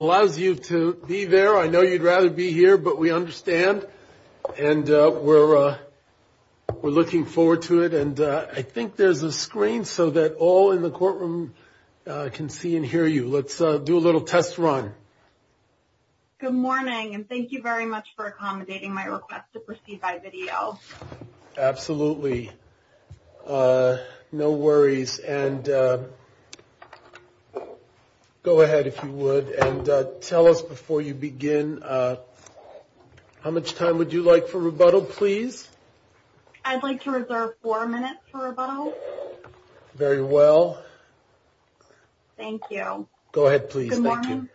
allows you to be there. I know you'd rather be here, but we understand and we're looking forward to it. And I think there's a screen so that all in the courtroom can see and hear you. Let's do a little test run. Good morning, and thank you very much for accommodating my request to proceed by video. Absolutely. No worries. And go ahead, if you would, and tell us before you begin. How much time would you like for rebuttal, please? I'd like to reserve four minutes for rebuttal. Very well. Thank you. Go ahead, please. Good morning.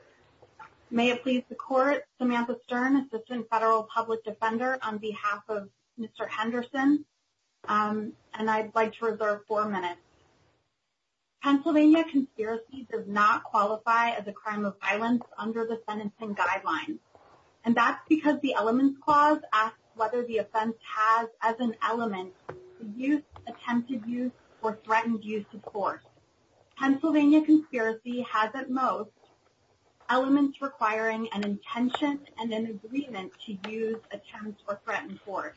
May it please the court, Samantha Stern, Assistant Federal Public Defender, on behalf of Mr. Henderson. And I'd like to reserve four minutes. Pennsylvania conspiracy does not qualify as a crime of violence under the sentencing guidelines. And that's because the Elements Clause asks whether the offense has, as an element, used, attempted use, or threatened use of force. Pennsylvania conspiracy has, at most, elements requiring an intention and an agreement to use, attempt, or threaten force.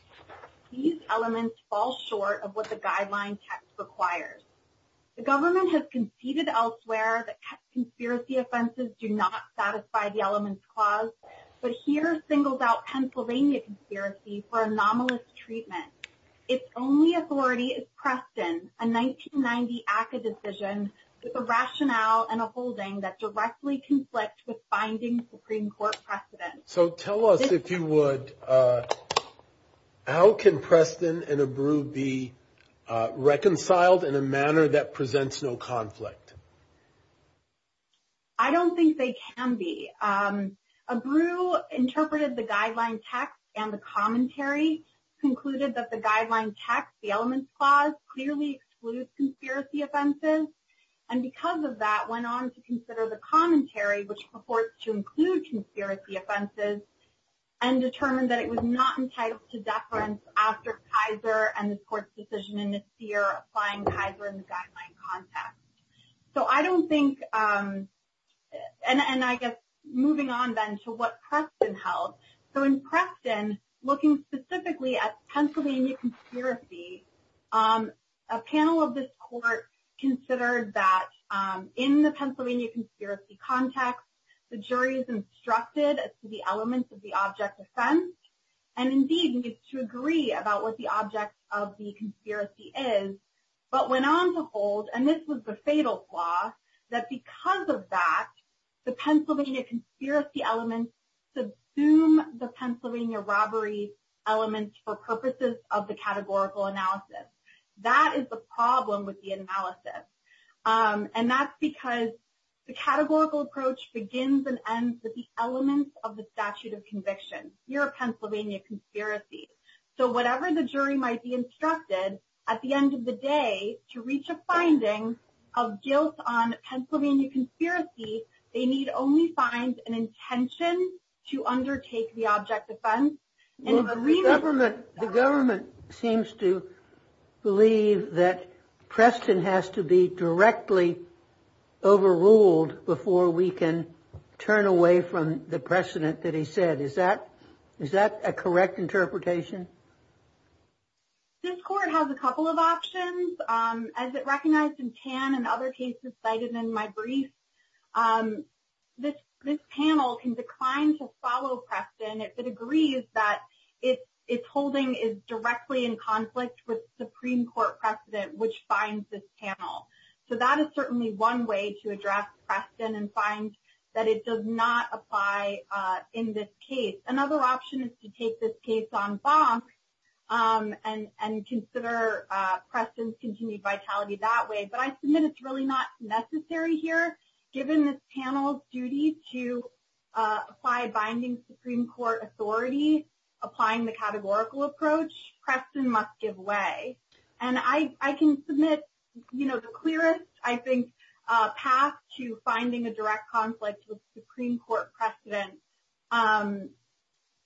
These elements fall short of what the guideline text requires. The government has conceded elsewhere that conspiracy offenses do not satisfy the Elements Clause, but here singles out Pennsylvania conspiracy for anomalous treatment. Its only authority is Preston, a 1990 ACCA decision with a rationale and a holding that directly conflict with finding Supreme Court precedent. So tell us, if you would, how can Preston and Abreu be reconciled in a manner that presents no conflict? I don't think they can be. Abreu interpreted the guideline text and the commentary, concluded that the guideline text, the Elements Clause, clearly excludes conspiracy offenses, and because of that, went on to consider the commentary, which purports to include conspiracy offenses, and determined that it was not entitled to deference after Kaiser and this court's decision in this year applying Kaiser in the guideline context. So I don't think, and I guess, moving on then to what Preston held. So in Preston, looking specifically at Pennsylvania conspiracy, a panel of this court considered that in the Pennsylvania conspiracy context, the jury is instructed as to the elements of the object of offense, and indeed needs to agree about what the object of the conspiracy is, but went on to hold, and this was the fatal flaw, that because of that, the Pennsylvania conspiracy elements subsume the Pennsylvania robbery elements for purposes of the categorical analysis. That is the problem with the analysis, and that's because the categorical approach begins and ends with the elements of the statute of conviction. You're a Pennsylvania conspiracy. So whatever the jury might be instructed, at the end of the day, to reach a finding of guilt on Pennsylvania conspiracy, they need only find an intention to undertake the object of offense. The government seems to believe that Preston has to be directly overruled before we can turn away from the precedent that he said. Is that a correct interpretation? This court has a couple of options. As it recognized in Tan and other cases cited in my brief, this panel can decline to follow Preston if it agrees that its holding is directly in conflict with Supreme Court precedent, which finds this panel. So that is certainly one way to address Preston and find that it does not apply in this case. Another option is to take this case on box and consider Preston's continued vitality that way. But I submit it's really not necessary here. Given this panel's duty to apply binding Supreme Court authority, applying the categorical approach, Preston must give way. And I can submit the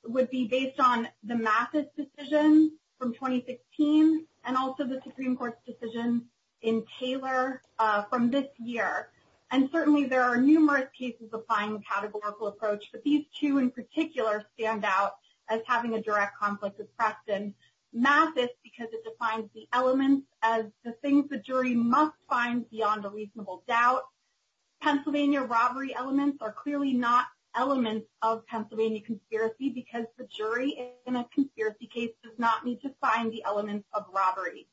would be based on the Mathis decision from 2016 and also the Supreme Court's decision in Taylor from this year. And certainly there are numerous cases applying the categorical approach, but these two in particular stand out as having a direct conflict with Preston. Mathis, because it defines the elements as the things the jury must find beyond a reasonable doubt. Pennsylvania robbery elements are clearly not elements of Pennsylvania conspiracy because the jury in a conspiracy case does not need to find the elements of robbery.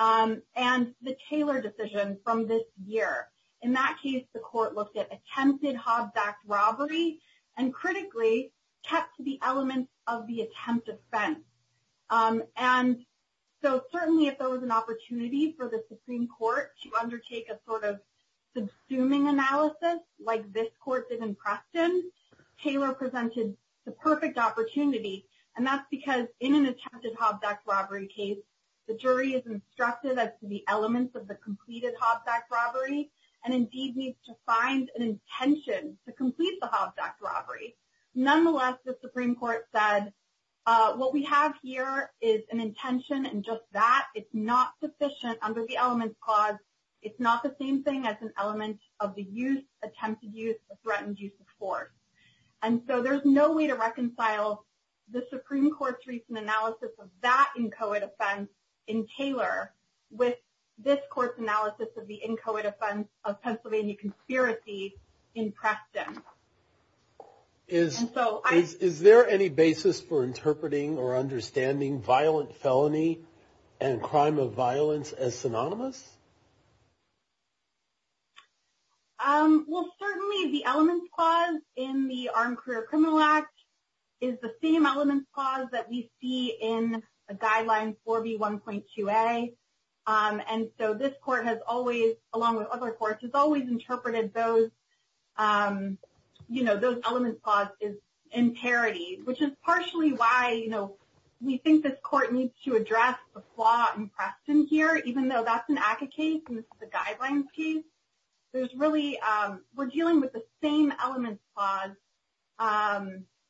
And the Taylor decision from this year. In that case, the court looked at attempted Hobbs Act robbery and critically kept to the elements of the attempt offense. And so certainly if there was an opportunity for the Supreme Court to undertake a sort of subsuming analysis, like this court did in Preston, Taylor presented the perfect opportunity. And that's because in an attempted Hobbs Act robbery case, the jury is instructed as to the elements of the completed Hobbs Act robbery, and indeed needs to find an intention to complete the Hobbs Act robbery. Nonetheless, the Supreme Court said, what we have here is an intention and just that it's not sufficient under the elements clause. It's not the same thing as an element of the use, attempted use, or threatened use of force. And so there's no way to reconcile the Supreme Court's recent analysis of that inchoate offense in Taylor with this court's analysis of the inchoate offense of Pennsylvania conspiracy in Preston. And so I- Is there any basis for interpreting or understanding violent felony and crime of violence as synonymous? Well, certainly the elements clause in the Armed Career Criminal Act is the same elements clause that we see in a guideline 4B1.2a. And so this court has always, along with other courts, has always interpreted those elements clause is in parity, which is partially why we think this court needs to address the flaw in Preston here, even though that's an ACCA case and this is a guidelines case. We're dealing with the same elements clause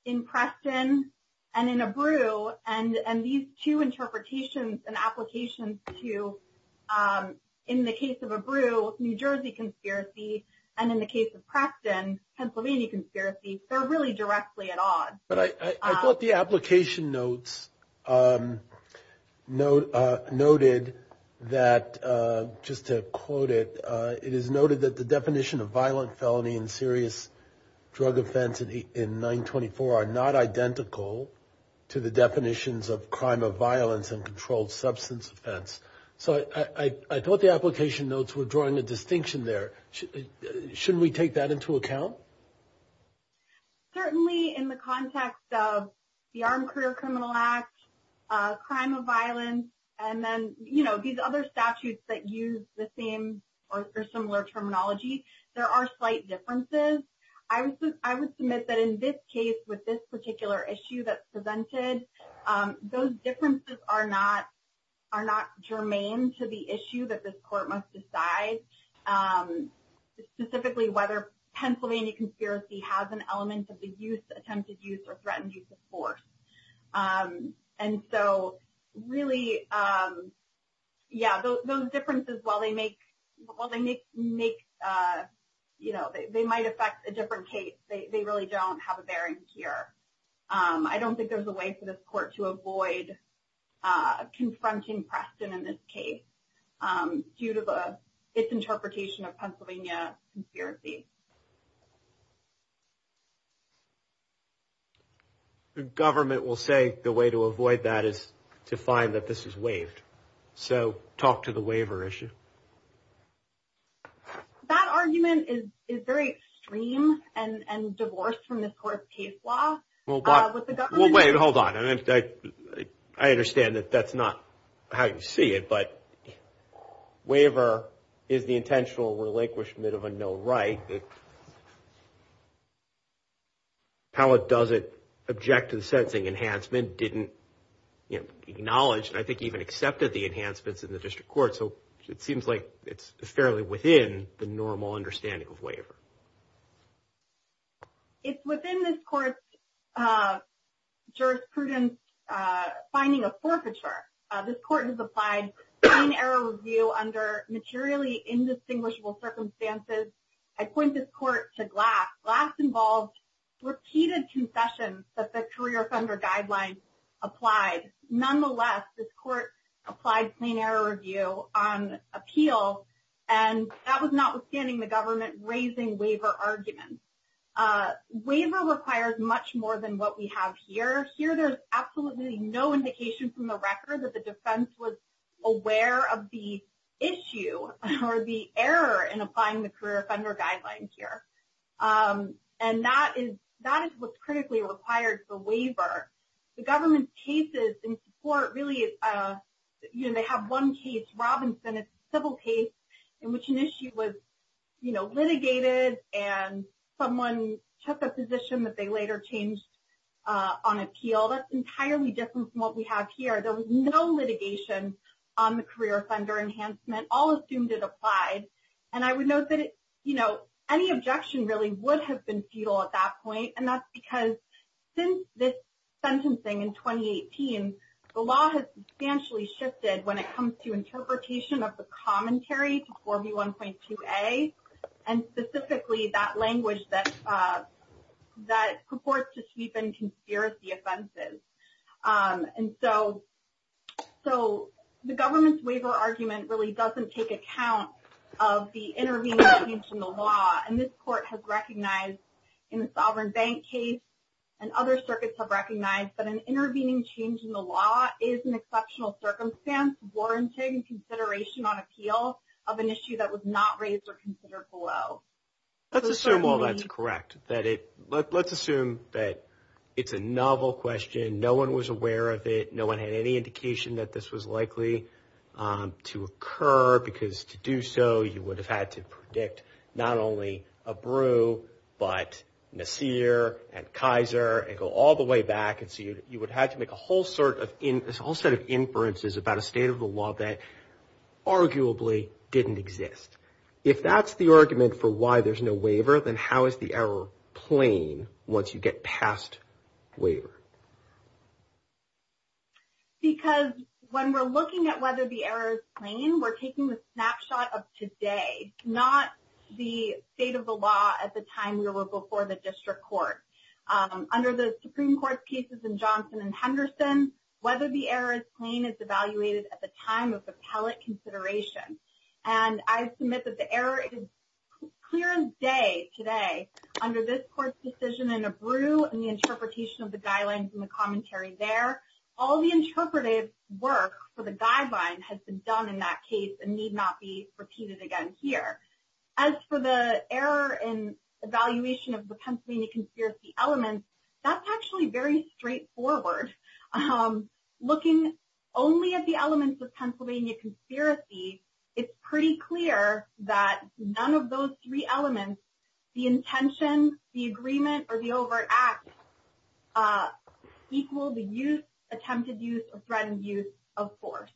in Preston and in Abreu, and these two interpretations and applications to, in the case of Abreu, New Jersey conspiracy, and in the case of Preston, Pennsylvania conspiracy, they're really directly at odds. But I thought the application notes noted that, just to quote it, it is noted that the definition of violent felony and serious drug offense in 924 are not identical to the definitions of crime of violence and controlled substance offense. So I thought the application notes were drawing a distinction there. Shouldn't we take that into account? Certainly in the context of the Armed Career Criminal Act, crime of violence, and then these other statutes that use the same or similar differences, I would submit that in this case, with this particular issue that's presented, those differences are not germane to the issue that this court must decide, specifically whether Pennsylvania conspiracy has an element of the attempted use or threatened use of force. And so really, yeah, those differences, while they might affect a different case, they really don't have a bearing here. I don't think there's a way for this court to avoid confronting Preston in this case due to its interpretation of Pennsylvania conspiracy. The government will say the way to avoid that is to find that this is waived. So talk to the waiver issue. That argument is very extreme and divorced from this court's case law. Well, wait, hold on. I understand that that's not how you see it, but waiver is the intentional relinquishment of a no right. How does it object to the sentencing? Enhancement didn't acknowledge, I think even accepted the enhancements in the district court. So it seems like it's fairly within the normal understanding of waiver. It's within this court's jurisprudence finding of forfeiture. This court has applied fine error review under materially indistinguishable circumstances. I point this court to Glass. Glass involved repeated concessions that the career offender guidelines applied. Nonetheless, this court applied plain error review on appeal, and that was notwithstanding the government raising waiver arguments. Waiver requires much more than what we have here. Here, there's absolutely no indication from the applying the career offender guidelines here. And that is what's critically required for waiver. The government's cases in support really, they have one case, Robinson, a civil case in which an issue was litigated and someone took a position that they later changed on appeal. That's entirely different from what we have here. There was no litigation on the career offender enhancement, all assumed it applied. And I would note that, you know, any objection really would have been futile at that point. And that's because since this sentencing in 2018, the law has substantially shifted when it comes to interpretation of the commentary to 4B1.2a, and specifically that language that purports to sweep in conspiracy offenses. And so the government's waiver argument really doesn't take account of the intervening change in the law. And this court has recognized in the Sovereign Bank case and other circuits have recognized that an intervening change in the law is an exceptional circumstance warranting consideration on appeal of an issue that was not raised or considered below. Let's assume all that's correct, that it, let's assume that it's a novel question. No one was aware of it. No one had any indication that this was likely to occur, because to do so, you would have had to predict not only Abreu, but Nasir and Kaiser, and go all the way back. And so you would have to make a whole set of inferences about a state of the law that arguably didn't exist. If that's the argument for why there's no waiver, then how is the error plain once you get past waiver? Because when we're looking at whether the error is plain, we're taking the snapshot of today, not the state of the law at the time we were before the district court. Under the Supreme Court's cases in Johnson and Henderson, whether the error is plain is evaluated at the time of appellate consideration. And I submit that the under this court's decision in Abreu and the interpretation of the guidelines in the commentary there, all the interpretive work for the guideline has been done in that case and need not be repeated again here. As for the error in evaluation of the Pennsylvania conspiracy elements, that's actually very straightforward. Looking only at the elements of Pennsylvania conspiracy, it's pretty clear that none of those three elements, the intention, the agreement, or the overt act equal the use, attempted use, or threatened use of force.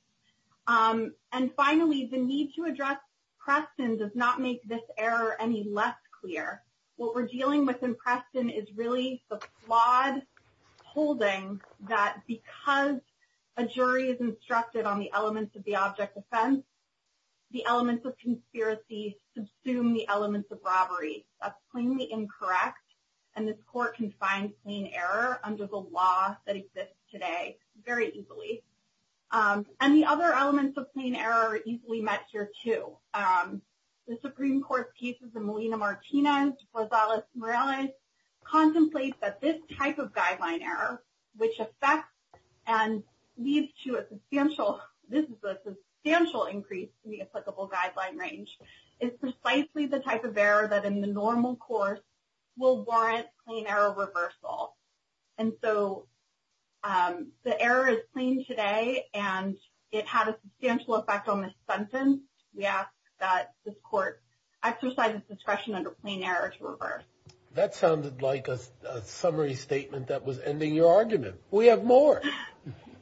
And finally, the need to address Preston does not make this error any less clear. What we're dealing with in Preston is really the flawed holding that because a jury is instructed on the elements of the object offense, the elements of conspiracy subsume the elements of robbery. That's plainly incorrect. And this court can find plain error under the law that exists today very easily. And the other elements of plain error are easily met here too. The Supreme Court's cases in Molina-Martinez, Rosales-Morales contemplates that this type of guideline error, which affects and leads to a substantial increase in the applicable guideline range, is precisely the type of error that in the normal course will warrant plain error reversal. And so, the error is plain today and it had a substantial effect on this sentence. We ask that this court exercise its discretion under plain error to reverse. That sounded like a summary statement that was ending your argument. We have more.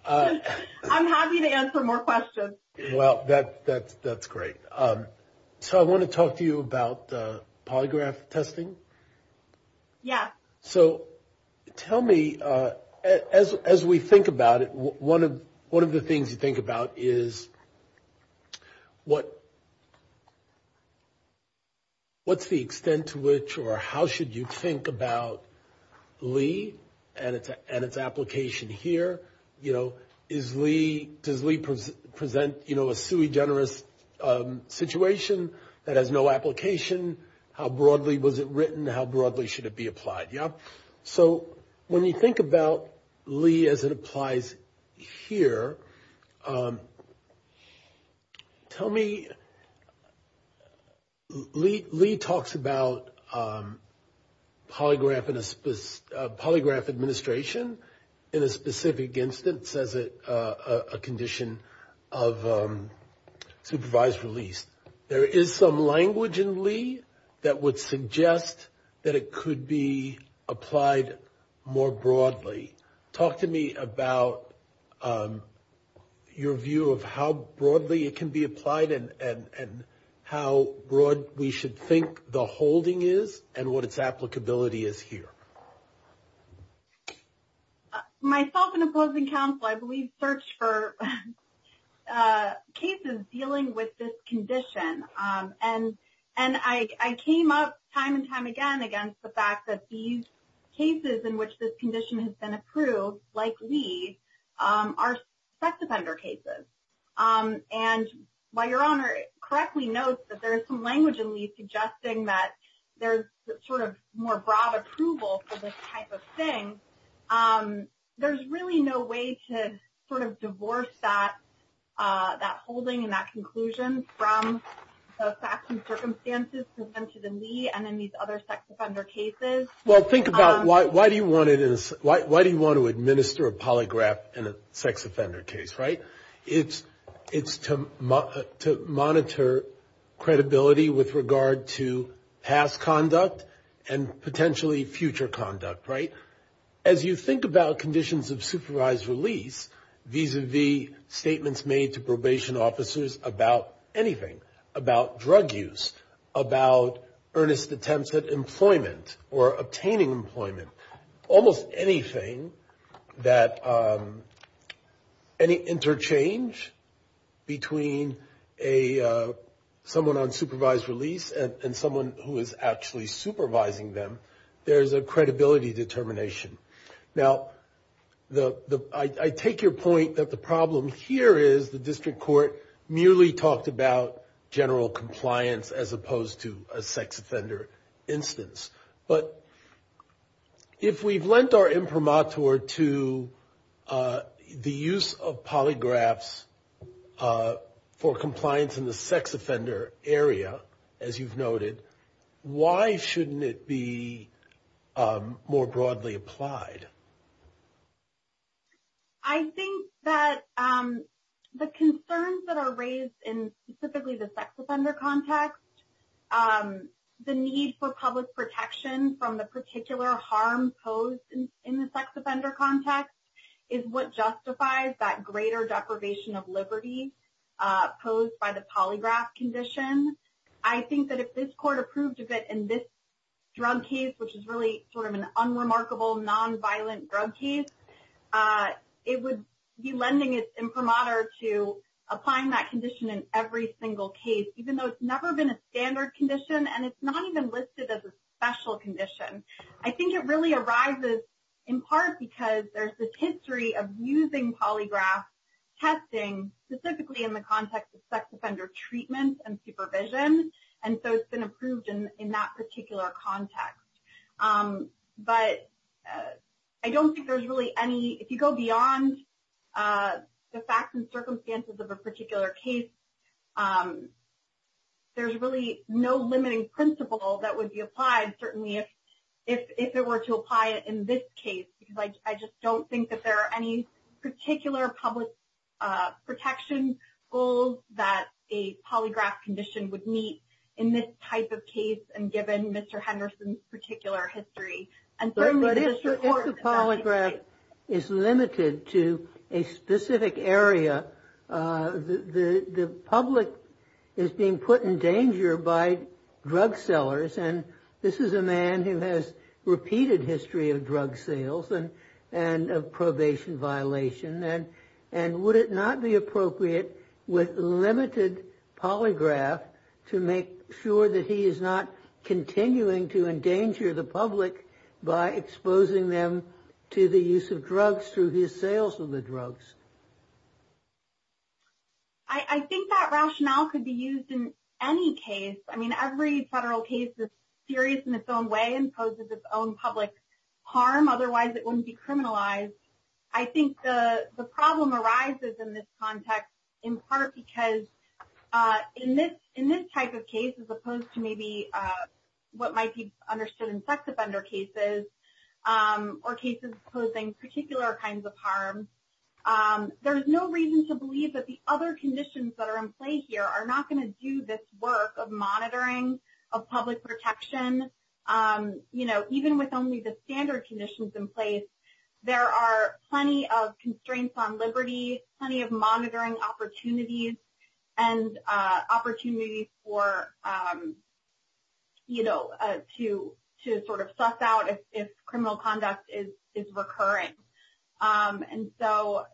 I'm happy to answer more questions. Well, that's great. So, I want to talk to you about polygraph testing. Yeah. So, tell me, as we think about it, one of the things you think about is what's the extent to which or how should you think about Lee and its application here? Does Lee present a sui generis situation that has no application? How broadly was it written? How broadly should it be applied? Yeah. So, when you think about Lee as it polygraph administration in a specific instance as a condition of supervised release, there is some language in Lee that would suggest that it could be applied more broadly. Talk to me about your view of how broadly it can be applied and how broad we should think the holding is and what its applicability is here. Myself and opposing counsel, I believe, search for cases dealing with this condition. And I came up time and time again against the fact that these cases in which this condition has been approved, like Lee, are sex offender cases. And while your Honor correctly notes that there is some language in Lee suggesting that there's sort of more broad approval for this type of thing, there's really no way to sort of divorce that holding and that conclusion from the facts and circumstances presented in Lee and in these other sex offender cases. Well, think about why do you want to administer a polygraph in a sex offender case, right? It's to monitor credibility with regard to past conduct and potentially future conduct, right? As you think about conditions of supervised release, vis-a-vis statements made to probation officers about anything, about drug use, about earnest attempts at employment or obtaining employment, almost anything that any interchange between someone on supervised release and someone who is actually supervising them, there's a credibility determination. Now, I take your point that the problem here is the district court merely talked about general compliance as opposed to a sex offender instance. But if we've lent our imprimatur to the use of polygraphs for compliance in the sex offender area, as you've noted, why shouldn't it be more broadly applied? I think that the concerns that are raised in specifically the sex offender context, the need for public protection from the particular harm posed in the sex offender context is what justifies that greater deprivation of liberty posed by the polygraph condition. I think that if this court approved that in this drug case, which is really sort of an unremarkable, nonviolent drug case, it would be lending its imprimatur to applying that condition in every single case, even though it's never been a standard condition and it's not even listed as a special condition. I think it really arises in part because there's this particular context. But I don't think there's really any, if you go beyond the facts and circumstances of a particular case, there's really no limiting principle that would be applied, certainly if it were to apply it in this case. Because I just don't think that there are any particular public protection goals that a polygraph condition would meet in this type of case, and given Mr. Henderson's particular history. But if the polygraph is limited to a specific area, the public is being put in danger by drug sellers, and this is a man who has repeated history of drug sales and of drug dealers, to make sure that he is not continuing to endanger the public by exposing them to the use of drugs through his sales of the drugs. I think that rationale could be used in any case. I mean, every federal case is serious in its own way and poses its own public harm, otherwise it wouldn't be So in this type of case, as opposed to maybe what might be understood in sex offender cases, or cases posing particular kinds of harm, there's no reason to believe that the other conditions that are in play here are not going to do this work of monitoring, of public protection. Even with only the standard conditions in place, there are plenty of constraints on liberty, plenty of monitoring opportunities, and opportunities to sort of suss out if criminal conduct is recurring. And so,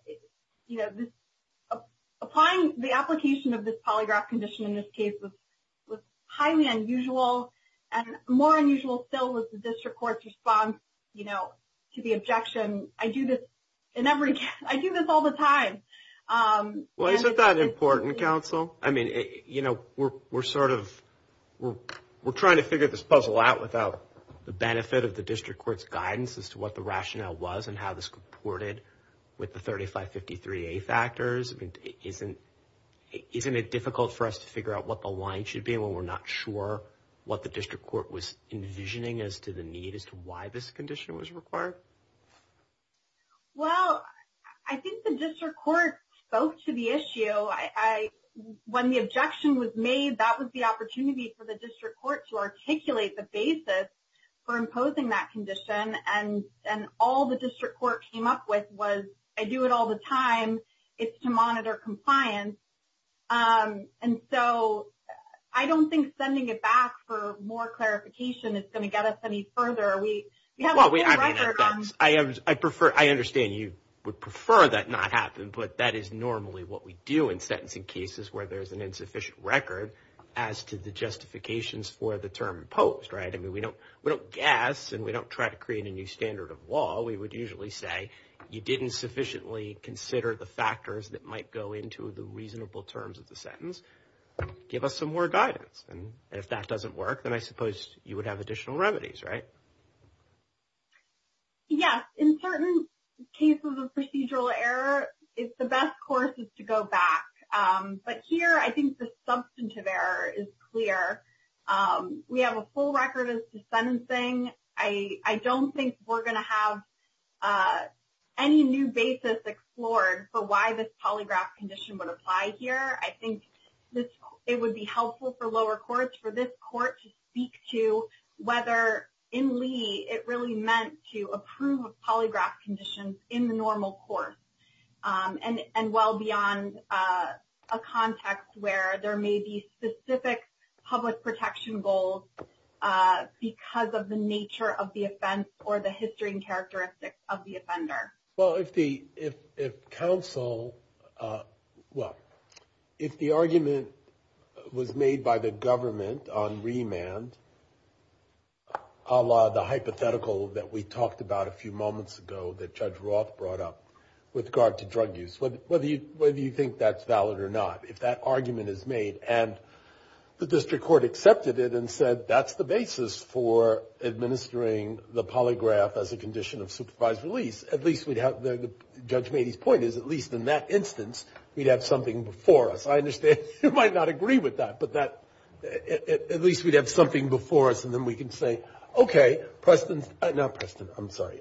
applying the application of this polygraph condition in this case was highly unusual, and more unusual still was the district court's response to the objection, I do this all the time. Well, isn't that important, counsel? I mean, you know, we're sort of, we're trying to figure this puzzle out without the benefit of the district court's guidance as to what the rationale was and how this reported with the 3553A factors. I mean, isn't it difficult for us to figure out what the line should be when we're not sure what the district court was envisioning as to the need, as to why this condition was required? Well, I think the district court spoke to the issue. When the objection was made, that was the opportunity for the district court to articulate the basis for imposing that condition. And all the district court came up with was, I do it all the time, it's to monitor compliance. And so, I don't think sending it back for more clarification is going to get us any further. Well, I mean, I prefer, I understand you would prefer that not happen, but that is normally what we do in sentencing cases where there's an insufficient record as to the justifications for the term imposed, right? I mean, we don't guess, and we don't try to create a new standard of law. We would usually say, you didn't sufficiently consider the factors that might go into the reasonable terms of the sentence, give us some more guidance. And if that doesn't work, then I suppose you would have additional remedies, right? Yes, in certain cases of procedural error, it's the best course is to go back. But here, I think the substantive error is clear. We have a full record as to sentencing. I don't think we're going to have any new basis explored for why this polygraph condition would apply here. I think it would be helpful for lower courts, for this court to speak to whether in Lee, it really meant to approve of polygraph conditions in the normal course. And well beyond a context where there may be specific public protection goals because of the nature of the offense or the history and characteristics of the offender. Well, if the argument was made by the government on remand, a la the hypothetical that we talked about a few moments ago that Judge Roth brought up with regard to drug use, whether you think that's valid or not, if that argument is made and the district court accepted it and said that's the basis for administering the polygraph as a condition of supervised release, at least we'd have, Judge Mady's point is at least in that instance, we'd have something before us. I understand you might not agree with that, but at least we'd have something before us and then we can say, okay, Preston, not Preston, I'm sorry,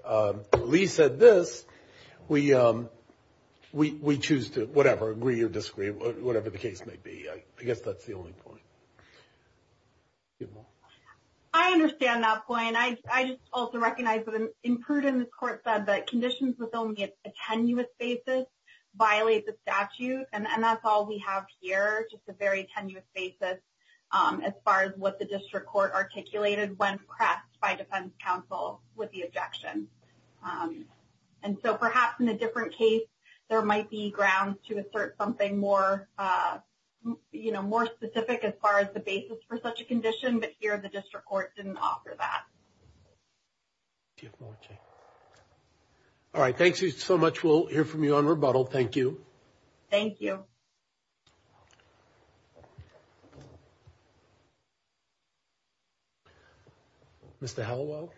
Lee said this, we choose to, whatever, agree or disagree, whatever the case may be. I guess that's the only point. I understand that point. I just also recognize that in prudent, the court said that conditions with only a tenuous basis violate the statute. And that's all we have here, just a very tenuous basis as far as what the district court articulated when pressed by defense counsel with the objection. And so perhaps in a different case, there might be grounds to assert something more, you know, more specific as far as the basis for such a condition, but here the district court didn't offer that. All right. Thank you so much. We'll hear from you on rebuttal. Thank you. Thank you. Mr. Hallowell.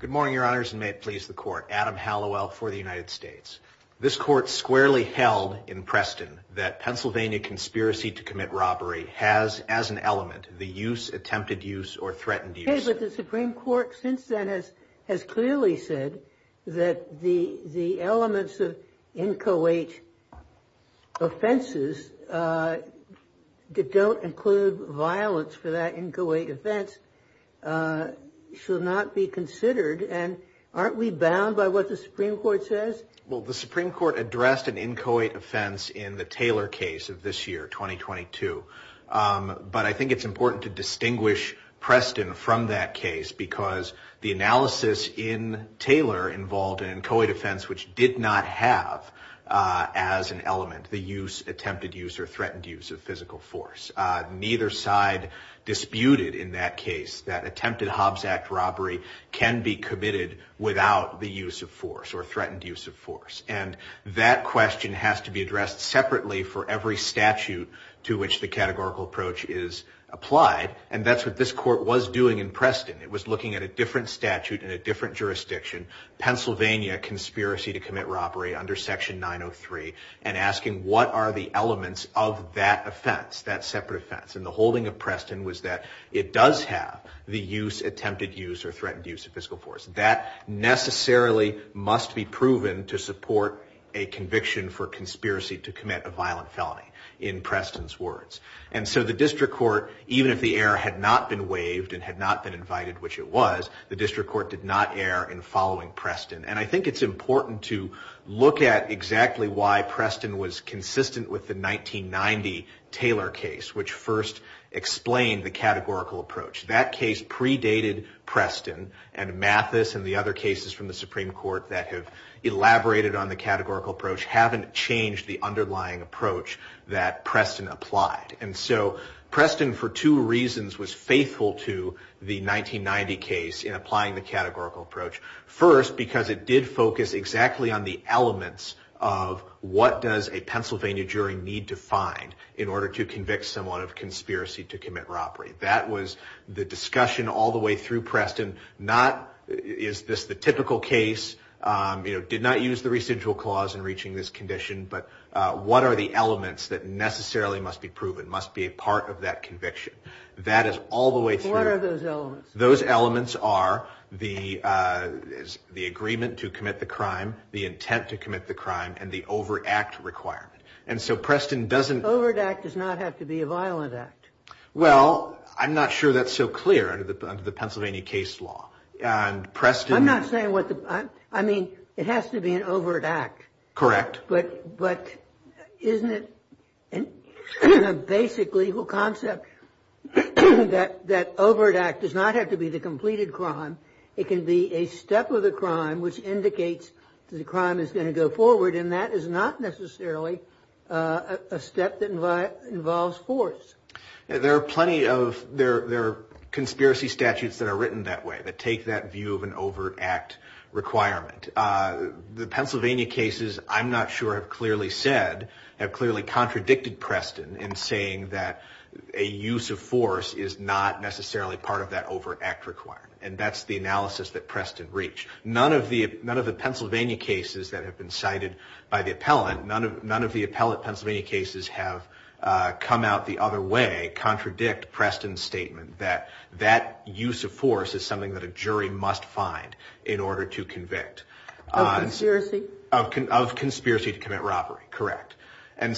Good morning, Your Honors, and may it please the court, Adam Hallowell for the United States. This court squarely held in Preston that Pennsylvania conspiracy to commit robbery has as an element, the use, attempted use or threatened use. OK, but the Supreme Court since then has has clearly said that the the elements of inchoate offenses that don't include violence for that inchoate offense should not be considered. And aren't we bound by what the Supreme Court says? Well, the Supreme Court addressed an inchoate offense in the Taylor case of this year, 2022. But I think it's important to distinguish Preston from that case because the analysis in Taylor involved an inchoate offense, which did not have as an element, the use, attempted use or threatened use of physical force. Neither side disputed in that case that attempted Hobbs Act robbery can be committed without the use of force or threatened use of force. And that question has to be addressed separately for every statute to which the categorical approach is applied. And that's what this court was doing in Preston. It was looking at a different statute in a different jurisdiction, Pennsylvania conspiracy to commit robbery under Section 903 and asking, what are the elements of that offense, that separate offense? And the holding of Preston was that it does have the use, attempted use or threatened use of physical force that necessarily must be proven to support a conviction for conspiracy to commit a violent felony in Preston's words. And so the district court, even if the error had not been waived and had not been invited, which it was, the district court did not err in following Preston. And I think it's important to look at exactly why Preston was consistent with the 1990 Taylor case, which first explained the categorical approach. That case predated Preston and Mathis and the other cases from the Supreme Court that have elaborated on the categorical approach haven't changed the underlying approach that Preston applied. And so Preston, for two reasons, was faithful to the 1990 case in applying the categorical approach. First, because it did focus exactly on the elements of what does a Pennsylvania jury need to find in order to convict someone of conspiracy to commit robbery? That was the discussion all the way through Preston. Not, is this the typical case, you know, did not use the residual clause in reaching this condition, but what are the elements that necessarily must be proven, must be a part of that conviction? That is all the way through. What are those elements? Those elements are the agreement to commit the crime, the intent to commit the crime, and the overact requirement. And so Preston doesn't... Overact does not have to be a violent act. Well, I'm not sure that's so clear under the Pennsylvania case law. And Preston... I'm not saying what the... I mean, it has to be an overact. Correct. But isn't it a basic legal concept that overact does not have to be the completed crime. It can be a step of the crime which indicates that the crime is going to go forward. And that is not necessarily a step that involves force. There are plenty of... There are conspiracy statutes that are written that way, that take that view of an overact requirement. The Pennsylvania cases, I'm not sure, have clearly said, have clearly contradicted Preston in saying that a use of force is not necessarily part of that overact requirement. And that's the analysis that Preston reached. None of the Pennsylvania cases that have been cited by the appellant, none of the appellate Pennsylvania cases have come out the other way, contradict Preston's statement. That that use of force is something that a jury must find in order to convict. Of conspiracy? Of conspiracy to commit robbery. Correct. And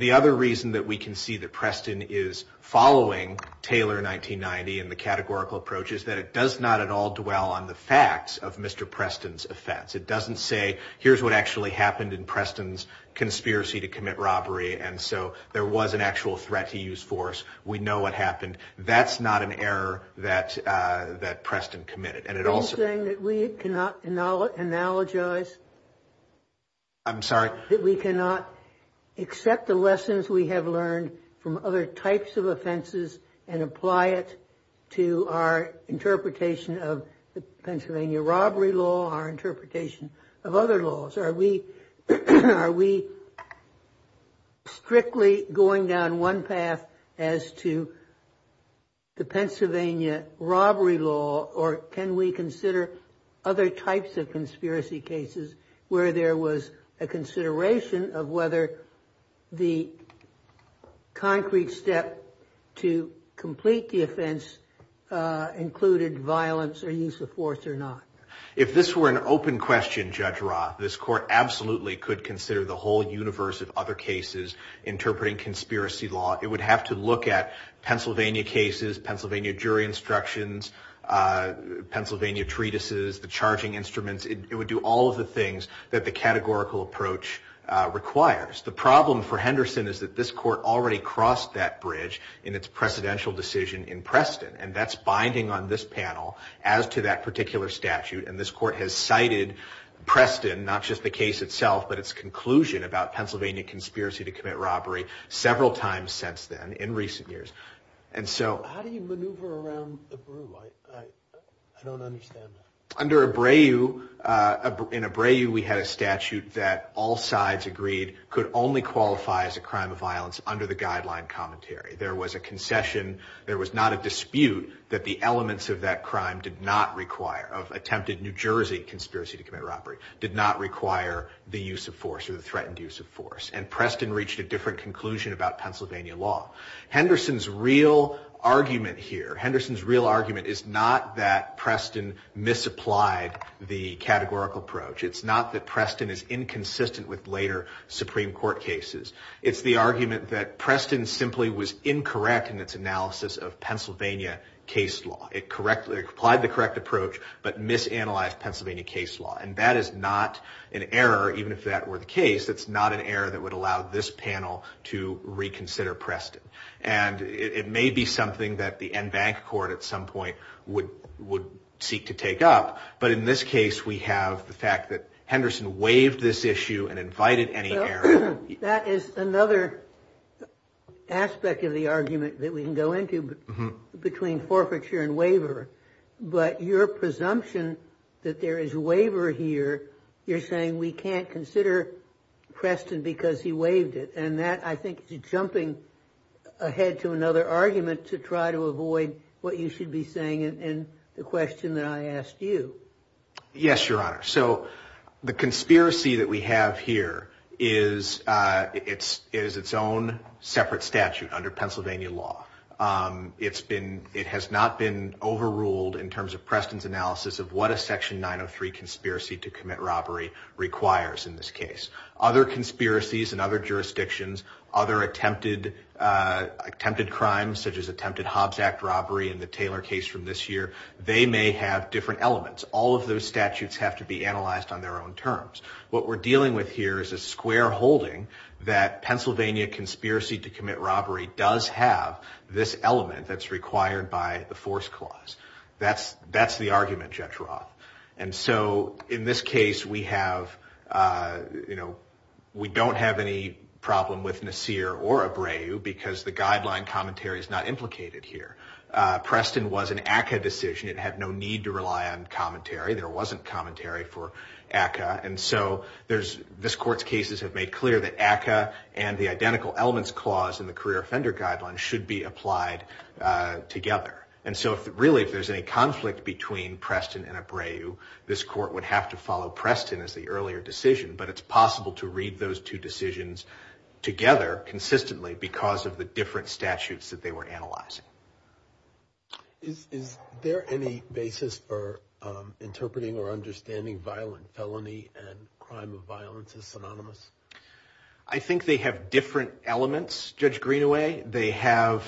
the other reason that we can see that Preston is following Taylor 1990 and the categorical approach is that it does not at all dwell on the facts of Mr. Preston's offense. It doesn't say, here's what actually happened in Preston's conspiracy to commit robbery. And so there was an actual threat to use force. We know what happened. That's not an error that Preston committed. Are you saying that we cannot analogize? I'm sorry? That we cannot accept the lessons we have learned from other types of offenses and apply it to our interpretation of the Pennsylvania robbery law, our interpretation of other laws? Are we strictly going down one path as to the Pennsylvania robbery law? Or can we consider other types of conspiracy cases where there was a consideration of whether the concrete step to complete the offense included violence or use of force or not? If this were an open question, Judge Roth, this court absolutely could consider the whole universe of other cases interpreting conspiracy law. It would have to look at Pennsylvania cases, Pennsylvania jury instructions, Pennsylvania treatises, the charging instruments. It would do all of the things that the categorical approach requires. The problem for Henderson is that this court already crossed that bridge in its presidential decision in Preston. And that's binding on this panel as to that particular statute. And this court has cited Preston, not just the case itself, but its conclusion about Pennsylvania conspiracy to commit robbery several times since then in recent years. And so... How do you maneuver around Abreu? I don't understand that. Under Abreu, in Abreu we had a statute that all sides agreed could only qualify as a crime of violence under the guideline commentary. There was a concession. There was not a dispute that the elements of that crime did not require, of attempted New Jersey conspiracy to commit robbery, did not require the use of force or the threatened use of force. And Preston reached a different conclusion about Pennsylvania law. Henderson's real argument here, Henderson's real argument is not that Preston misapplied the categorical approach. It's not that Preston is inconsistent with later Supreme Court cases. It's the argument that Preston simply was incorrect in its analysis of Pennsylvania case law. It correctly applied the correct approach, but misanalyzed Pennsylvania case law. And that is not an error, even if that were the case. That's not an error that would allow this panel to reconsider Preston. And it may be something that the en banc court at some point would seek to take up. But in this case, we have the fact that Henderson waived this issue and invited any error. That is another aspect of the argument that we can go into between forfeiture and waiver. But your presumption that there is waiver here, you're saying we can't consider Preston because he waived it. And that, I think, is jumping ahead to another argument to try to avoid what you should be saying in the question that I asked you. Yes, Your Honor. So the conspiracy that we have here is its own separate statute under Pennsylvania law. It has not been overruled in terms of Preston's analysis of what a Section 903 conspiracy to commit robbery requires in this case. Other conspiracies in other jurisdictions, other attempted crimes, such as attempted Hobbs Act robbery in the Taylor case from this year, they may have different elements. All of those statutes have to be analyzed on their own terms. What we're dealing with here is a square holding that Pennsylvania conspiracy to commit robbery does have this element that's required by the force clause. That's the argument, Judge Roth. And so in this case, we don't have any problem with Nasir or Abreu because the guideline commentary is not implicated here. Preston was an ACCA decision. It had no need to rely on commentary. There wasn't commentary for ACCA. And so this Court's cases have made clear that ACCA and the identical elements clause in the career offender guideline should be applied together. And so really, if there's any conflict between Preston and Abreu, this Court would have to follow Preston as the earlier decision. But it's possible to read those two decisions together consistently because of the different statutes that they were analyzing. Is there any basis for interpreting or understanding violent felony and crime of violence as synonymous? I think they have different elements, Judge Greenaway. They have,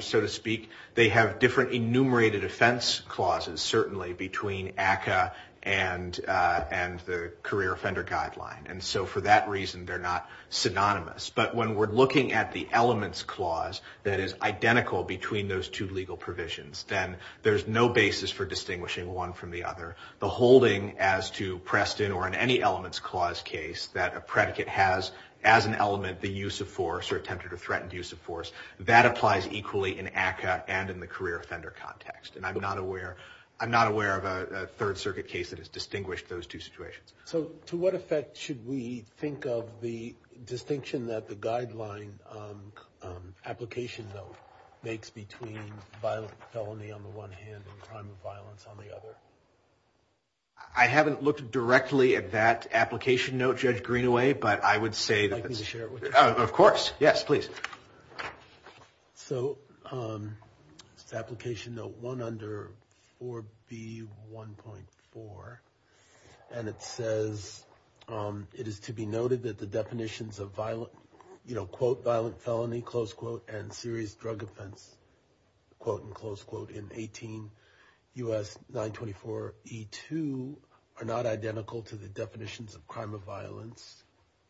so to speak, they have different enumerated offense clauses, certainly, between ACCA and the career offender guideline. And so for that reason, they're not synonymous. But when we're looking at the elements clause that is identical between those two legal provisions, then there's no basis for distinguishing one from the other. The holding as to Preston or in any elements clause case that a predicate has as an element the use of force or attempted or threatened use of force, that applies equally in ACCA and in the career offender context. And I'm not aware of a Third Circuit case that has distinguished those two situations. So to what effect should we think of the distinction that the guideline application note makes between violent felony on the one hand and crime of violence on the other? I haven't looked directly at that application note, Judge Greenaway, but I would say that... Would you like me to share it with you? Of course. Yes, please. So it's application note one under 4B1.4, and it says it is to be noted that the definitions of violent, you know, quote, violent felony, close quote, and serious drug offense, quote, and close quote in 18 U.S. 924E2 are not identical to the definitions of crime of violence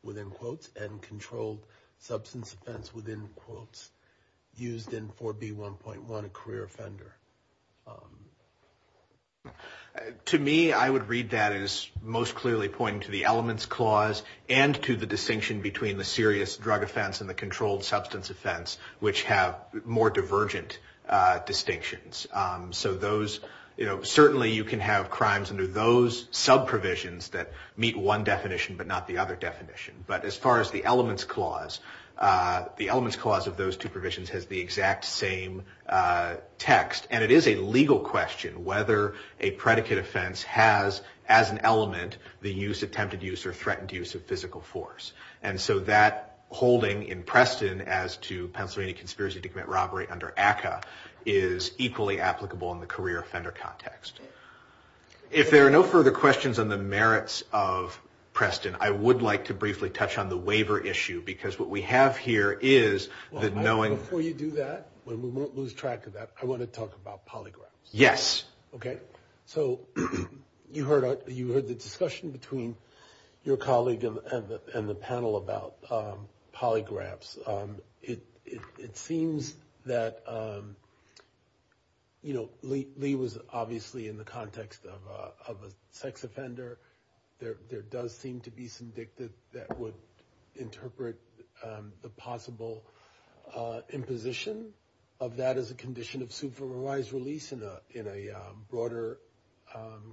within quotes and controlled substance offense within quotes used in 4B1.1, a career offender. To me, I would read that as most clearly pointing to the elements clause and to the distinction between the serious drug offense and the controlled substance offense, which have more divergent distinctions. So those, you know, certainly you can have crimes under those sub provisions that meet one definition, but not the other definition. But as far as the elements clause, the elements clause of those two provisions has the exact same text. And it is a legal question whether a predicate offense has, as an element, the use, attempted use, or threatened use of physical force. And so that holding in Preston as to Pennsylvania conspiracy to commit robbery under ACCA is equally applicable in the career offender context. If there are no further questions on the merits of Preston, I would like to briefly touch on the waiver issue. Because what we have here is that knowing. Before you do that, we won't lose track of that. I want to talk about polygraphs. Yes. Okay. So you heard, you heard the discussion between your colleague and the panel about polygraphs. It seems that, you know, Lee was obviously in the context of a sex offender. There does seem to be some dicta that would interpret the possible imposition of that as a condition of supervised release in a broader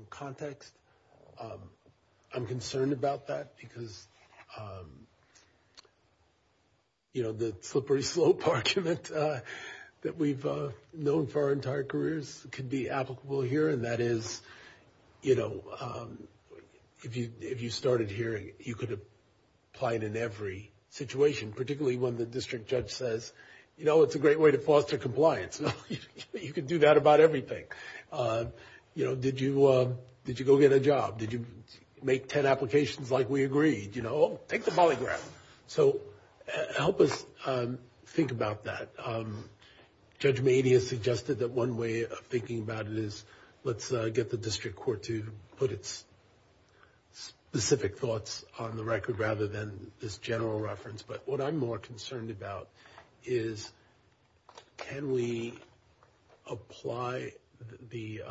context. I'm concerned about that because, you know, the slippery slope argument that we've known for our entire careers could be applicable here. And that is, you know, if you started here, you could apply it in every situation, particularly when the district judge says, you know, it's a great way to foster compliance. You can do that about everything. You know, did you, did you go get a job? Did you make 10 applications like we agreed? You know, take the polygraph. So help us think about that. Judge Meade has suggested that one way of thinking about it is let's get the district court to put its specific thoughts on the record rather than this general reference. But what I'm more concerned about is can we apply the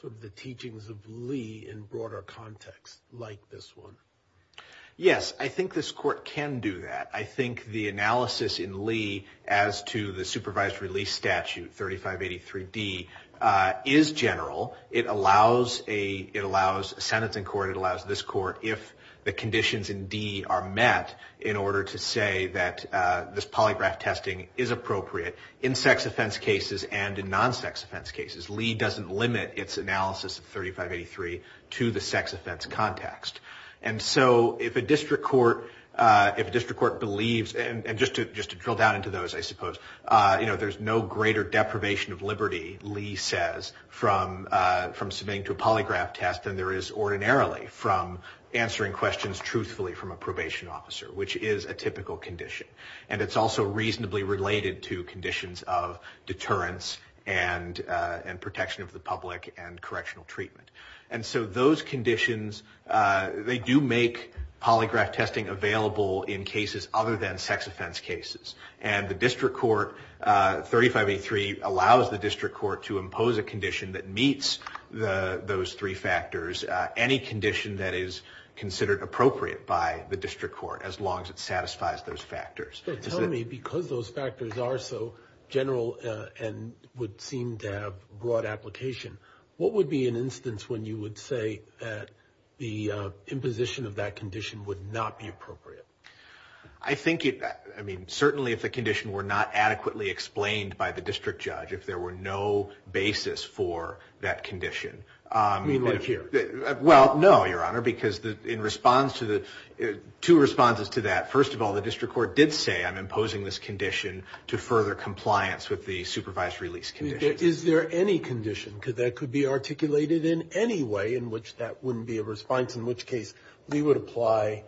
sort of the teachings of Lee in broader context like this one? Yes, I think this court can do that. I think the analysis in Lee as to the supervised release statute, 3583D, is general. It allows a, it allows a sentence in court. It allows this court, if the conditions in D are met, in order to say that this polygraph testing is appropriate in sex offense cases and in non-sex offense cases. Lee doesn't limit its analysis of 3583 to the sex offense context. And so if a district court, if a district court believes, and just to drill down into those, I suppose, you know, there's no greater deprivation of liberty, Lee says, from submitting to a polygraph test than there is ordinarily from answering questions truthfully from a probation officer, which is a typical condition. And it's also reasonably related to conditions of deterrence and protection of the public and correctional treatment. And so those conditions, they do make polygraph testing available in cases other than sex offense cases. And the district court, 3583, allows the district court to impose a condition that meets those three factors. Any condition that is considered appropriate by the district court, as long as it satisfies those factors. So tell me, because those factors are so general and would seem to have broad application, what would be an instance when you would say that the imposition of that condition would not be appropriate? I think it, I mean, certainly if the condition were not adequately explained by the district judge, if there were no basis for that condition. You mean like here? Well, no, Your Honor, because in response to the, two responses to that. First of all, the district court did say I'm imposing this condition to further compliance with the supervised release conditions. Is there any condition that could be articulated in any way in which that wouldn't be a response, in which case we would apply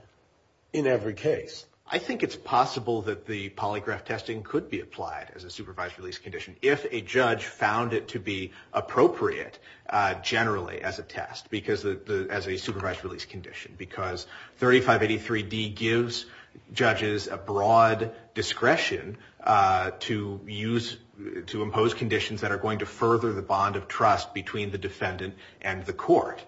in every case? I think it's possible that the polygraph testing could be applied as a supervised release condition if a judge found it to be appropriate, generally, as a test. Because the, as a supervised release condition, because 3583D gives judges a broad discretion to use, to impose conditions that are going to further the bond of trust between the defendant and the court,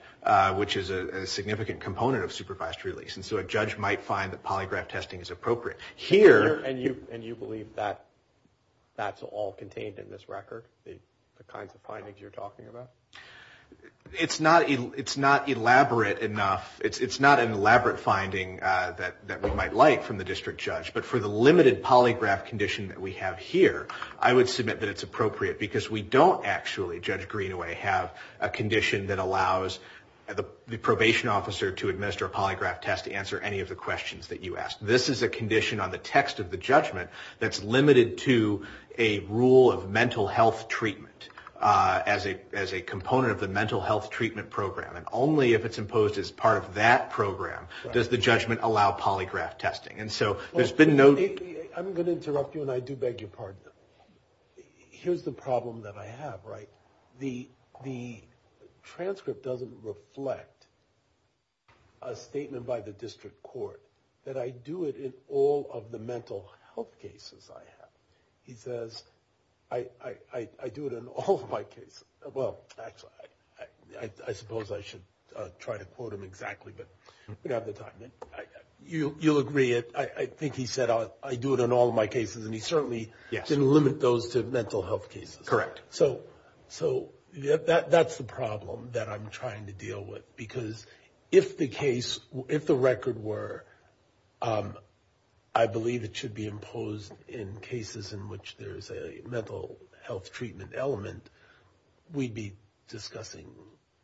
which is a significant component of supervised release. And so a judge might find that polygraph testing is appropriate. Here. And you, and you believe that that's all contained in this record, the kinds of findings you're talking about? It's not, it's not elaborate enough. It's not an elaborate finding that we might like from the district judge. But for the limited polygraph condition that we have here, I would submit that it's appropriate. Because we don't actually, Judge Greenaway, have a condition that allows the probation officer to administer a polygraph test to answer any of the questions that you ask. This is a condition on the text of the judgment that's limited to a rule of mental health treatment as a, as a component of the mental health treatment program. And only if it's imposed as part of that program does the judgment allow polygraph testing. And so there's been no. I'm going to interrupt you, and I do beg your pardon. Here's the problem that I have, right? The, the transcript doesn't reflect a statement by the district court that I do it in all of the mental health cases I have. He says, I, I, I, I do it in all of my cases. Well, actually, I, I, I suppose I should try to quote him exactly, but we don't have the time. You, you'll agree it, I, I think he said I, I do it in all of my cases. And he certainly. Yes. Didn't limit those to mental health cases. Correct. So, so that, that's the problem that I'm trying to deal with. Because if the case, if the record were, I believe it should be imposed in cases in which there's a mental health treatment element, we'd be discussing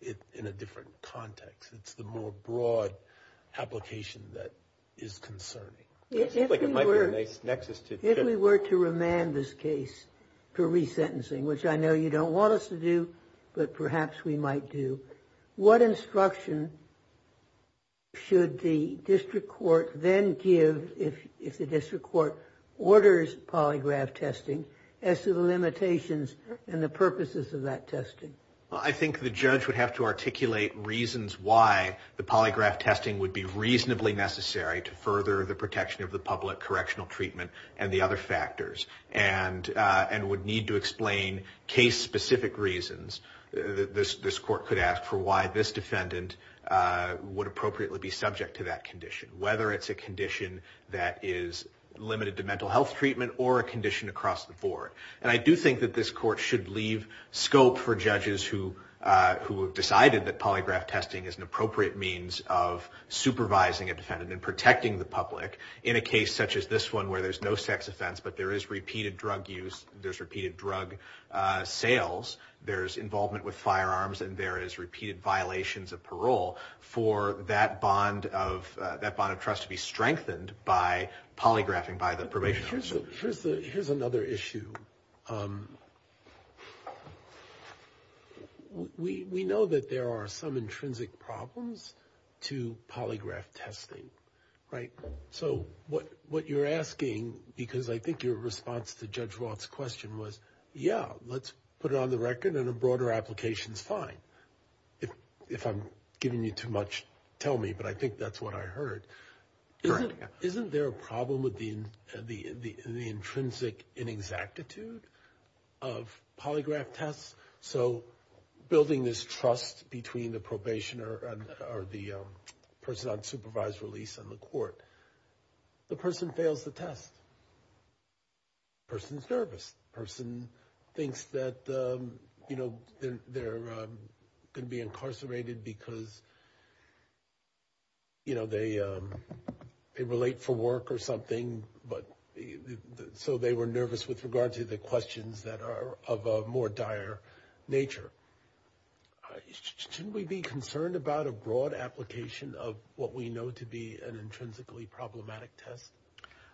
it in a different context. It's the more broad application that is concerning. It seems like it might be a nice nexus to. If we were to remand this case for resentencing, which I know you don't want us to do, but perhaps we might do, what instruction should the district court then give if, if the district court orders polygraph testing as to the limitations and the purposes of that testing? I think the judge would have to articulate reasons why the polygraph testing would be reasonably necessary to further the protection of the public correctional treatment and the other factors. And, and would need to explain case specific reasons that this, this court could ask for why this defendant would appropriately be subject to that condition. Whether it's a condition that is limited to mental health treatment or a condition across the board. And I do think that this court should leave scope for judges who, who have decided that polygraph testing is an appropriate means of supervising a defendant and protecting the public. In a case such as this one where there's no sex offense, but there is repeated drug use, there's repeated drug sales, there's involvement with firearms, and there is repeated violations of parole. For that bond of, that bond of trust to be strengthened by polygraphing by the probation officer. Here's the, here's the, here's another issue we, we know that there are some intrinsic problems to polygraph testing, right? So what, what you're asking, because I think your response to Judge Roth's question was, yeah, let's put it on the record and a broader application's fine. If, if I'm giving you too much, tell me, but I think that's what I heard. Isn't, isn't there a problem with the, the, the, the intrinsic inexactitude of polygraph tests? So building this trust between the probationer and, or the person on supervised release and the court. The person fails the test. Person's nervous. Person thinks that, you know, they're, they're gonna be incarcerated because, you know, they, they relate for work or something, but, so they were nervous with regard to the questions that are of a more dire nature. Shouldn't we be concerned about a broad application of what we know to be an intrinsically problematic test?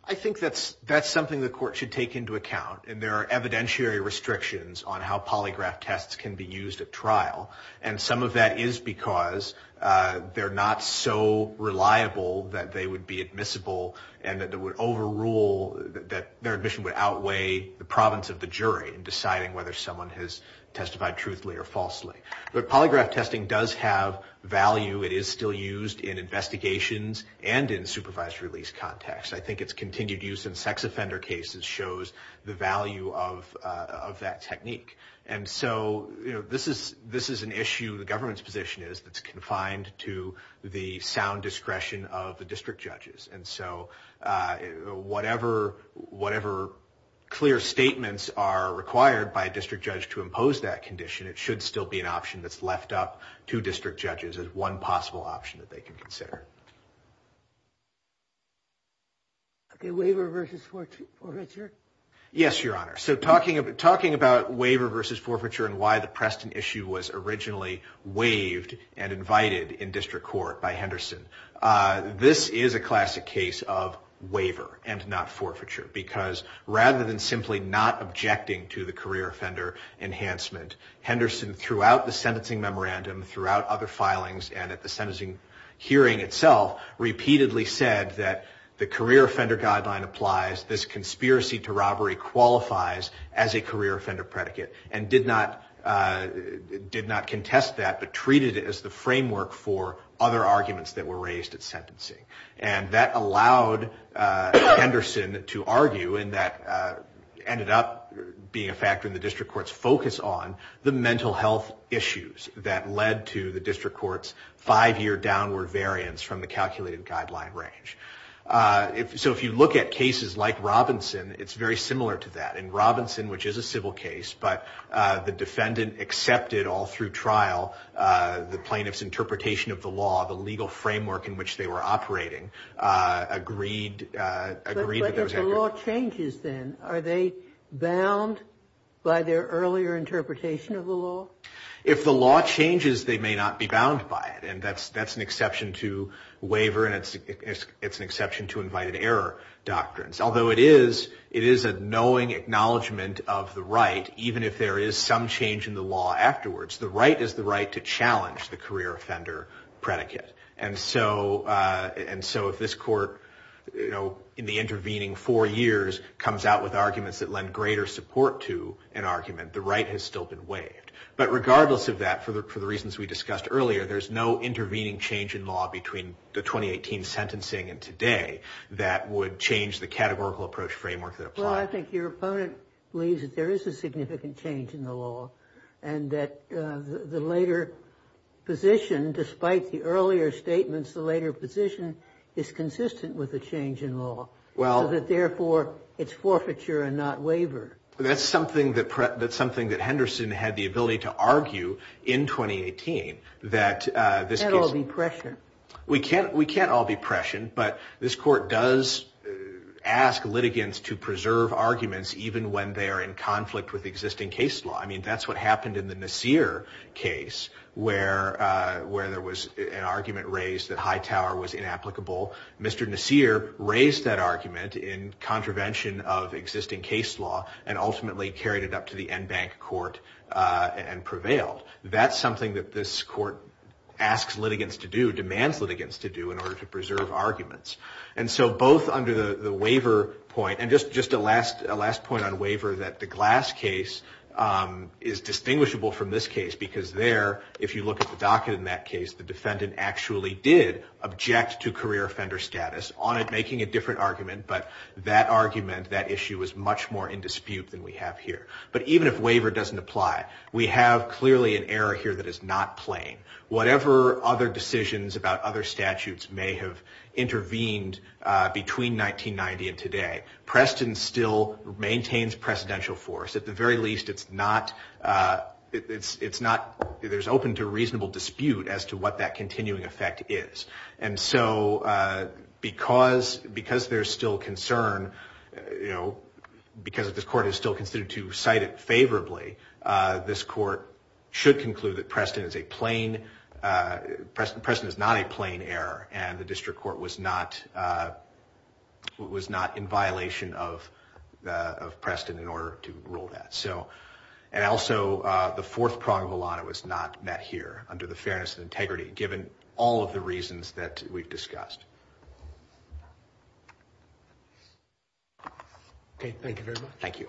I think that's, that's something the court should take into account, and there are evidentiary restrictions on how polygraph tests can be used at trial. And some of that is because they're not so reliable that they would be admissible and that it would overrule, that their admission would outweigh the province of the jury in deciding whether someone has testified truthfully or falsely. But polygraph testing does have value. It is still used in investigations and in supervised release context. I think it's continued use in sex offender cases shows the value of, of that technique. And so, you know, this is, this is an issue the government's position is that's confined to the sound discretion of the district judges. And so, whatever, whatever clear statements are required by a district judge to impose that condition, it should still be an option that's left up to district judges as one possible option that they can consider. Okay, waiver versus for, for Richard? Yes, Your Honor. So talking about, talking about waiver versus forfeiture and why the Preston issue was originally waived and invited in district court by Henderson. This is a classic case of waiver and not forfeiture. Because rather than simply not objecting to the career offender enhancement, Henderson throughout the sentencing memorandum, throughout other filings, and at the sentencing hearing itself, repeatedly said that the career offender guideline applies. This conspiracy to robbery qualifies as a career offender predicate. And did not, did not contest that, but treated it as the framework for other arguments that were raised at sentencing. And that allowed Henderson to argue, and that ended up being a factor in the district court's focus on, the mental health issues that led to the district court's five-year downward variance from the calculated guideline range. So if you look at cases like Robinson, it's very similar to that. In Robinson, which is a civil case, but the defendant accepted all through trial, the plaintiff's interpretation of the law, the legal framework in which they were operating, agreed, agreed. But if the law changes then, are they bound by their earlier interpretation of the law? If the law changes, they may not be bound by it. And that's, that's an exception to waiver, and it's, it's an exception to invited error doctrines. Although it is, it is a knowing acknowledgement of the right, even if there is some change in the law afterwards. The right is the right to challenge the career offender predicate. And so, and so if this court, you know, in the intervening four years, comes out with arguments that lend greater support to an argument, the right has still been waived. But regardless of that, for the reasons we discussed earlier, there's no intervening change in law between the 2018 sentencing and today that would change the categorical approach framework that applies. Well, I think your opponent believes that there is a significant change in the law, and that the later position, despite the earlier statements, the later position is consistent with the change in law. Well. So that therefore, it's forfeiture and not waiver. That's something that, that's something that Henderson had the ability to argue in 2018. That this. Can't all be pressure. We can't, we can't all be pressure. But this court does ask litigants to preserve arguments, even when they are in conflict with existing case law. That's what happened in the Nassir case, where there was an argument raised that Hightower was inapplicable. Mr. Nassir raised that argument in contravention of existing case law, and ultimately carried it up to the Enbank court and prevailed. That's something that this court asks litigants to do, demands litigants to do, in order to preserve arguments. And so both under the waiver point, and just a last point on waiver, that the Glass case is distinguishable from this case. Because there, if you look at the docket in that case, the defendant actually did object to career offender status. On it, making a different argument. But that argument, that issue, was much more in dispute than we have here. But even if waiver doesn't apply, we have clearly an error here that is not plain. Whatever other decisions about other statutes may have intervened between 1990 and today, Preston still maintains precedential force. At the very least, there's open to reasonable dispute as to what that continuing effect is. And so because there's still concern, because the court is still considered to cite it favorably, this court should conclude that Preston is not a plain error, and the district court was not in violation of Preston in order to rule that. And also, the fourth prong of a lot of it was not met here, under the fairness and integrity, given all of the reasons that we've discussed. Okay, thank you very much. Thank you.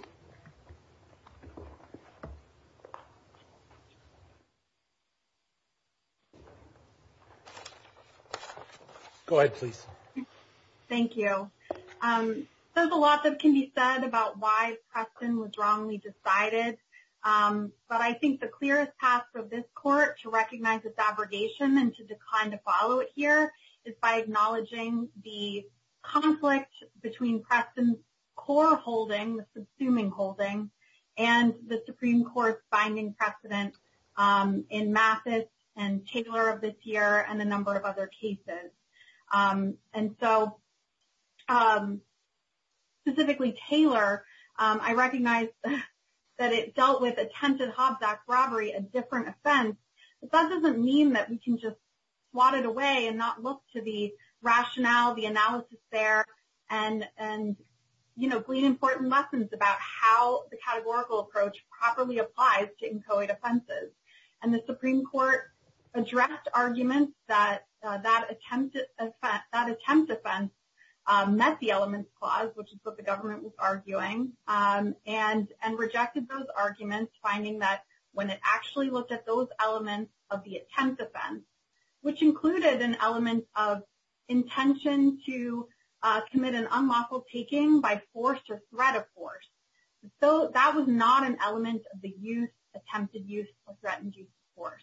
Go ahead, please. Thank you. There's a lot that can be said about why Preston was wrongly decided. But I think the clearest path for this court to recognize this abrogation, and to decline to follow it here, is by acknowledging the conflict between Preston's core holding, the subsuming holding, and the Supreme Court's binding precedent in Mathis and Taylor of this year, and a number of other cases. And so, specifically Taylor, I recognize that it dealt with attempted Hobsack robbery, a different offense. But that doesn't mean that we can just swat it away and not look to the rationale, the analysis there, and glean important lessons about how the categorical approach properly applies to inchoate offenses. And the Supreme Court addressed arguments that that attempt offense met the elements clause, which is what the government was arguing, and rejected those arguments, finding that when it actually looked at those elements of the attempt offense, which included an element of intention to commit an unlawful taking by force or threat of force. So, that was not an element of the attempted use of threatened use of force.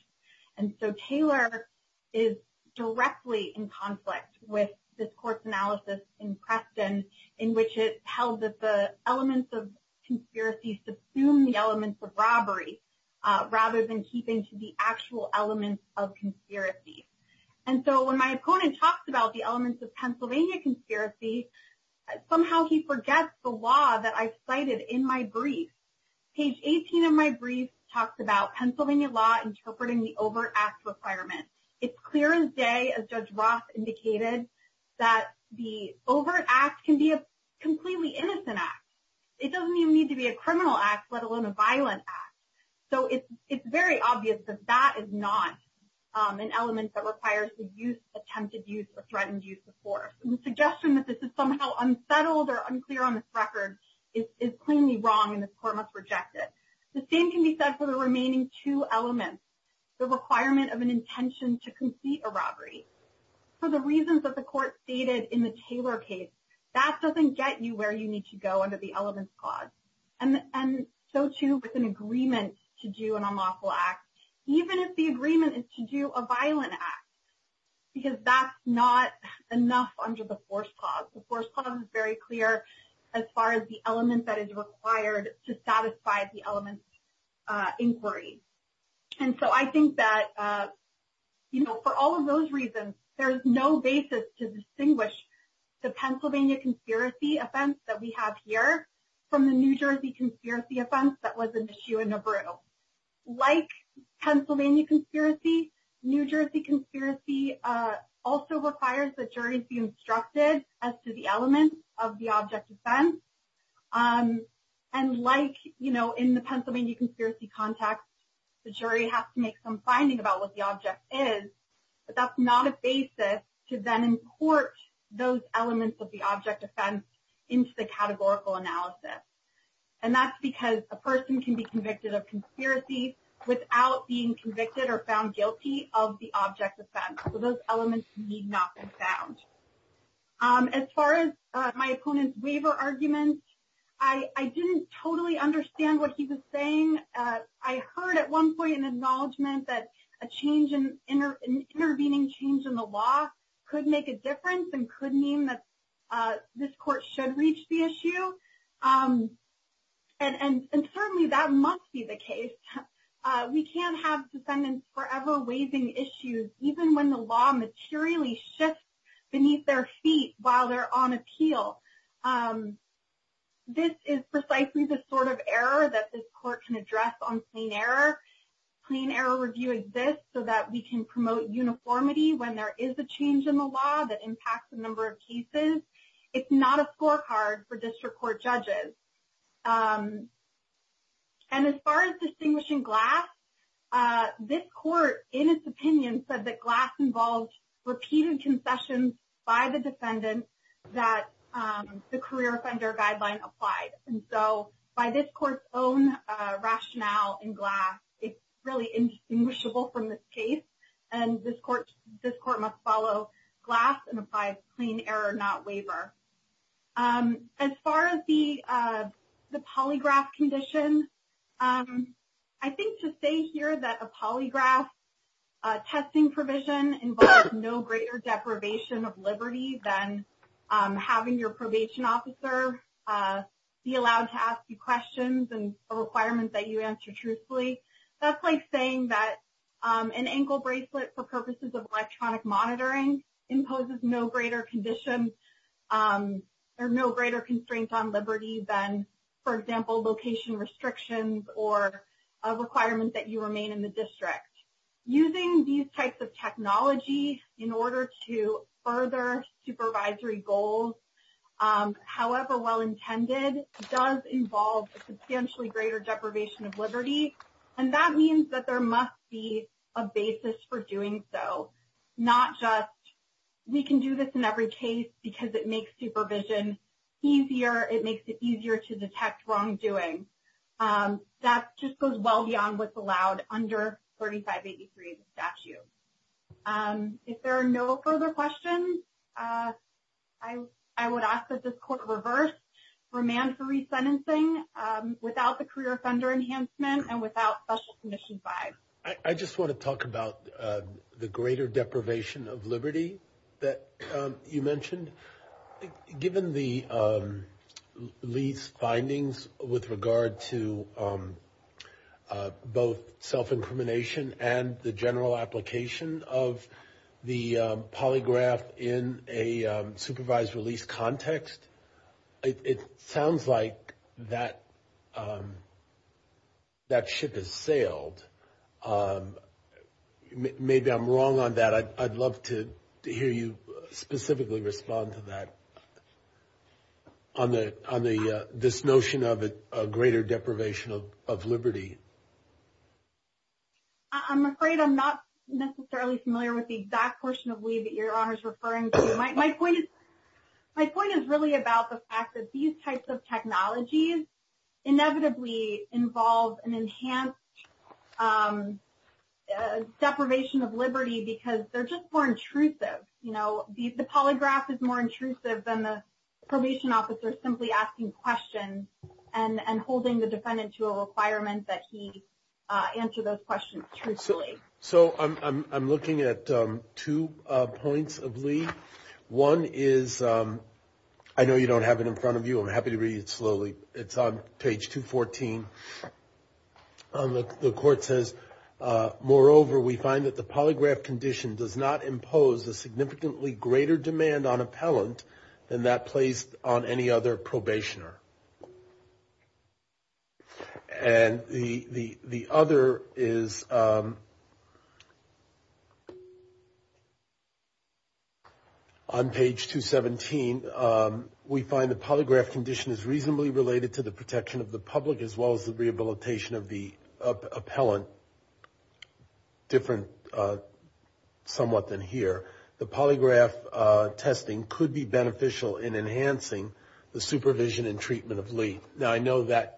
And so, Taylor is directly in conflict with this court's analysis in Preston, in which it held that the elements of conspiracy subsumed the elements of robbery, rather than keeping to the actual elements of conspiracy. And so, when my opponent talks about the elements of Pennsylvania conspiracy, somehow he forgets the law that I cited in my brief. Page 18 of my brief talks about Pennsylvania law interpreting the overt act requirement. It's clear as day, as Judge Roth indicated, that the overt act can be a completely innocent act. It doesn't even need to be a criminal act, let alone a violent act. So, it's very obvious that that is not an element that requires the use, attempted use, or threatened use of force. The suggestion that this is somehow unsettled or unclear on this record is plainly wrong and this court must reject it. The same can be said for the remaining two elements, the requirement of an intention to complete a robbery. For the reasons that the court stated in the Taylor case, that doesn't get you where you need to go under the elements clause. And so, too, with an agreement to do an unlawful act, even if the agreement is to do a violent act, because that's not enough under the force clause. The force clause is very clear as far as the element that is required to satisfy the element's inquiry. And so, I think that, you know, for all of those reasons, there is no basis to distinguish the Pennsylvania conspiracy offense that we have here from the New Jersey conspiracy offense that was an issue in Nebrew. Like Pennsylvania conspiracy, New Jersey conspiracy also requires that juries be instructed as to the elements of the object offense. And like, you know, in the Pennsylvania conspiracy context, the jury has to make some finding about what the object is, but that's not a basis to then import those elements of the object offense into the categorical analysis. And that's because a person can be convicted of conspiracy without being convicted or found guilty of the object offense. So, those elements need not be found. As far as my opponent's waiver argument, I didn't totally understand what he was saying. I heard at one point an acknowledgement that a change in intervening change in the law could make a difference and could mean that this court should reach the issue. And certainly that must be the case. We can't have defendants forever waiving issues, even when the law materially shifts beneath their feet while they're on appeal. This is precisely the sort of error that this court can address on plain error. Plain error review exists so that we can promote uniformity when there is a change in the law that impacts a number of cases. It's not a scorecard for district court judges. And as far as distinguishing Glass, this court, in its opinion, said that Glass involved repeated concessions by the defendant that the career offender guideline applied. And so, by this court's own rationale in Glass, it's really indistinguishable from this case. And this court must follow Glass and apply plain error, not waiver. As far as the polygraph condition, I think to say here that a polygraph testing provision involves no greater deprivation of liberty than having your probation officer be allowed to ask you questions and a requirement that you answer truthfully, that's like saying that an ankle bracelet for purposes of electronic monitoring imposes no greater condition or no greater constraint on liberty than, for example, location restrictions or a requirement that you remain in the district. Using these types of technology in order to further supervisory goals, however well intended, does involve a substantially greater deprivation of liberty. And that means that there must be a basis for doing so, not just we can do this in every case because it makes supervision easier, it makes it easier to detect wrongdoing. That just goes well beyond what's allowed under 3583 of the statute. If there are no further questions, I would ask that this court reverse remand for resentencing without the career offender enhancement and without special commission five. I just want to talk about the greater deprivation of liberty that you mentioned. Given the lease findings with regard to both self-incrimination and the general application of the polygraph in a supervised release context, it sounds like that ship has sailed. Maybe I'm wrong on that. I'd love to hear you specifically respond to that on this notion of a greater deprivation of liberty. I'm afraid I'm not necessarily familiar with the exact portion of we that your honor is referring to. My point is really about the fact that these types of technologies inevitably involve an enhanced deprivation of liberty because they're just more intrusive. The polygraph is more intrusive than the probation officer simply asking questions and holding the defendant to a answer those questions truthfully. I'm looking at two points of Lee. One is, I know you don't have it in front of you. I'm happy to read it slowly. It's on page 214. The court says, moreover, we find that the polygraph condition does not impose a significantly greater demand on appellant than that placed on any other probationer. And the other is on page 217, we find the polygraph condition is reasonably related to the protection of the public as well as the rehabilitation of the appellant, different somewhat than here. The I know that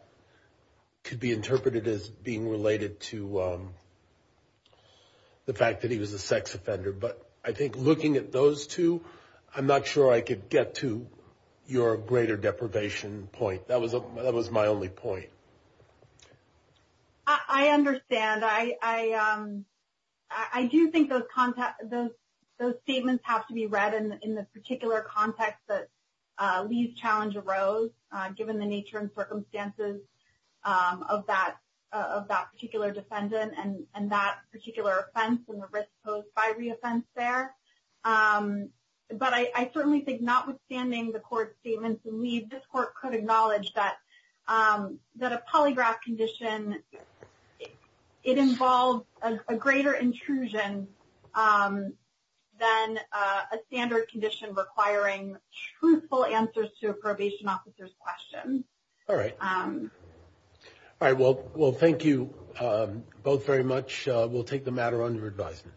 could be interpreted as being related to the fact that he was a sex offender, but I think looking at those two, I'm not sure I could get to your greater deprivation point. That was my only point. I understand. I do think those statements have to be read in the particular context that challenge arose given the nature and circumstances of that particular defendant and that particular offense and the risk posed by reoffense there. But I certainly think notwithstanding the court statements and Lee, this court could acknowledge that a polygraph condition, it involves a greater intrusion than a standard condition requiring truthful answers to a probation officer's questions. All right. All right. Well, thank you both very much. We'll take the matter under advisement.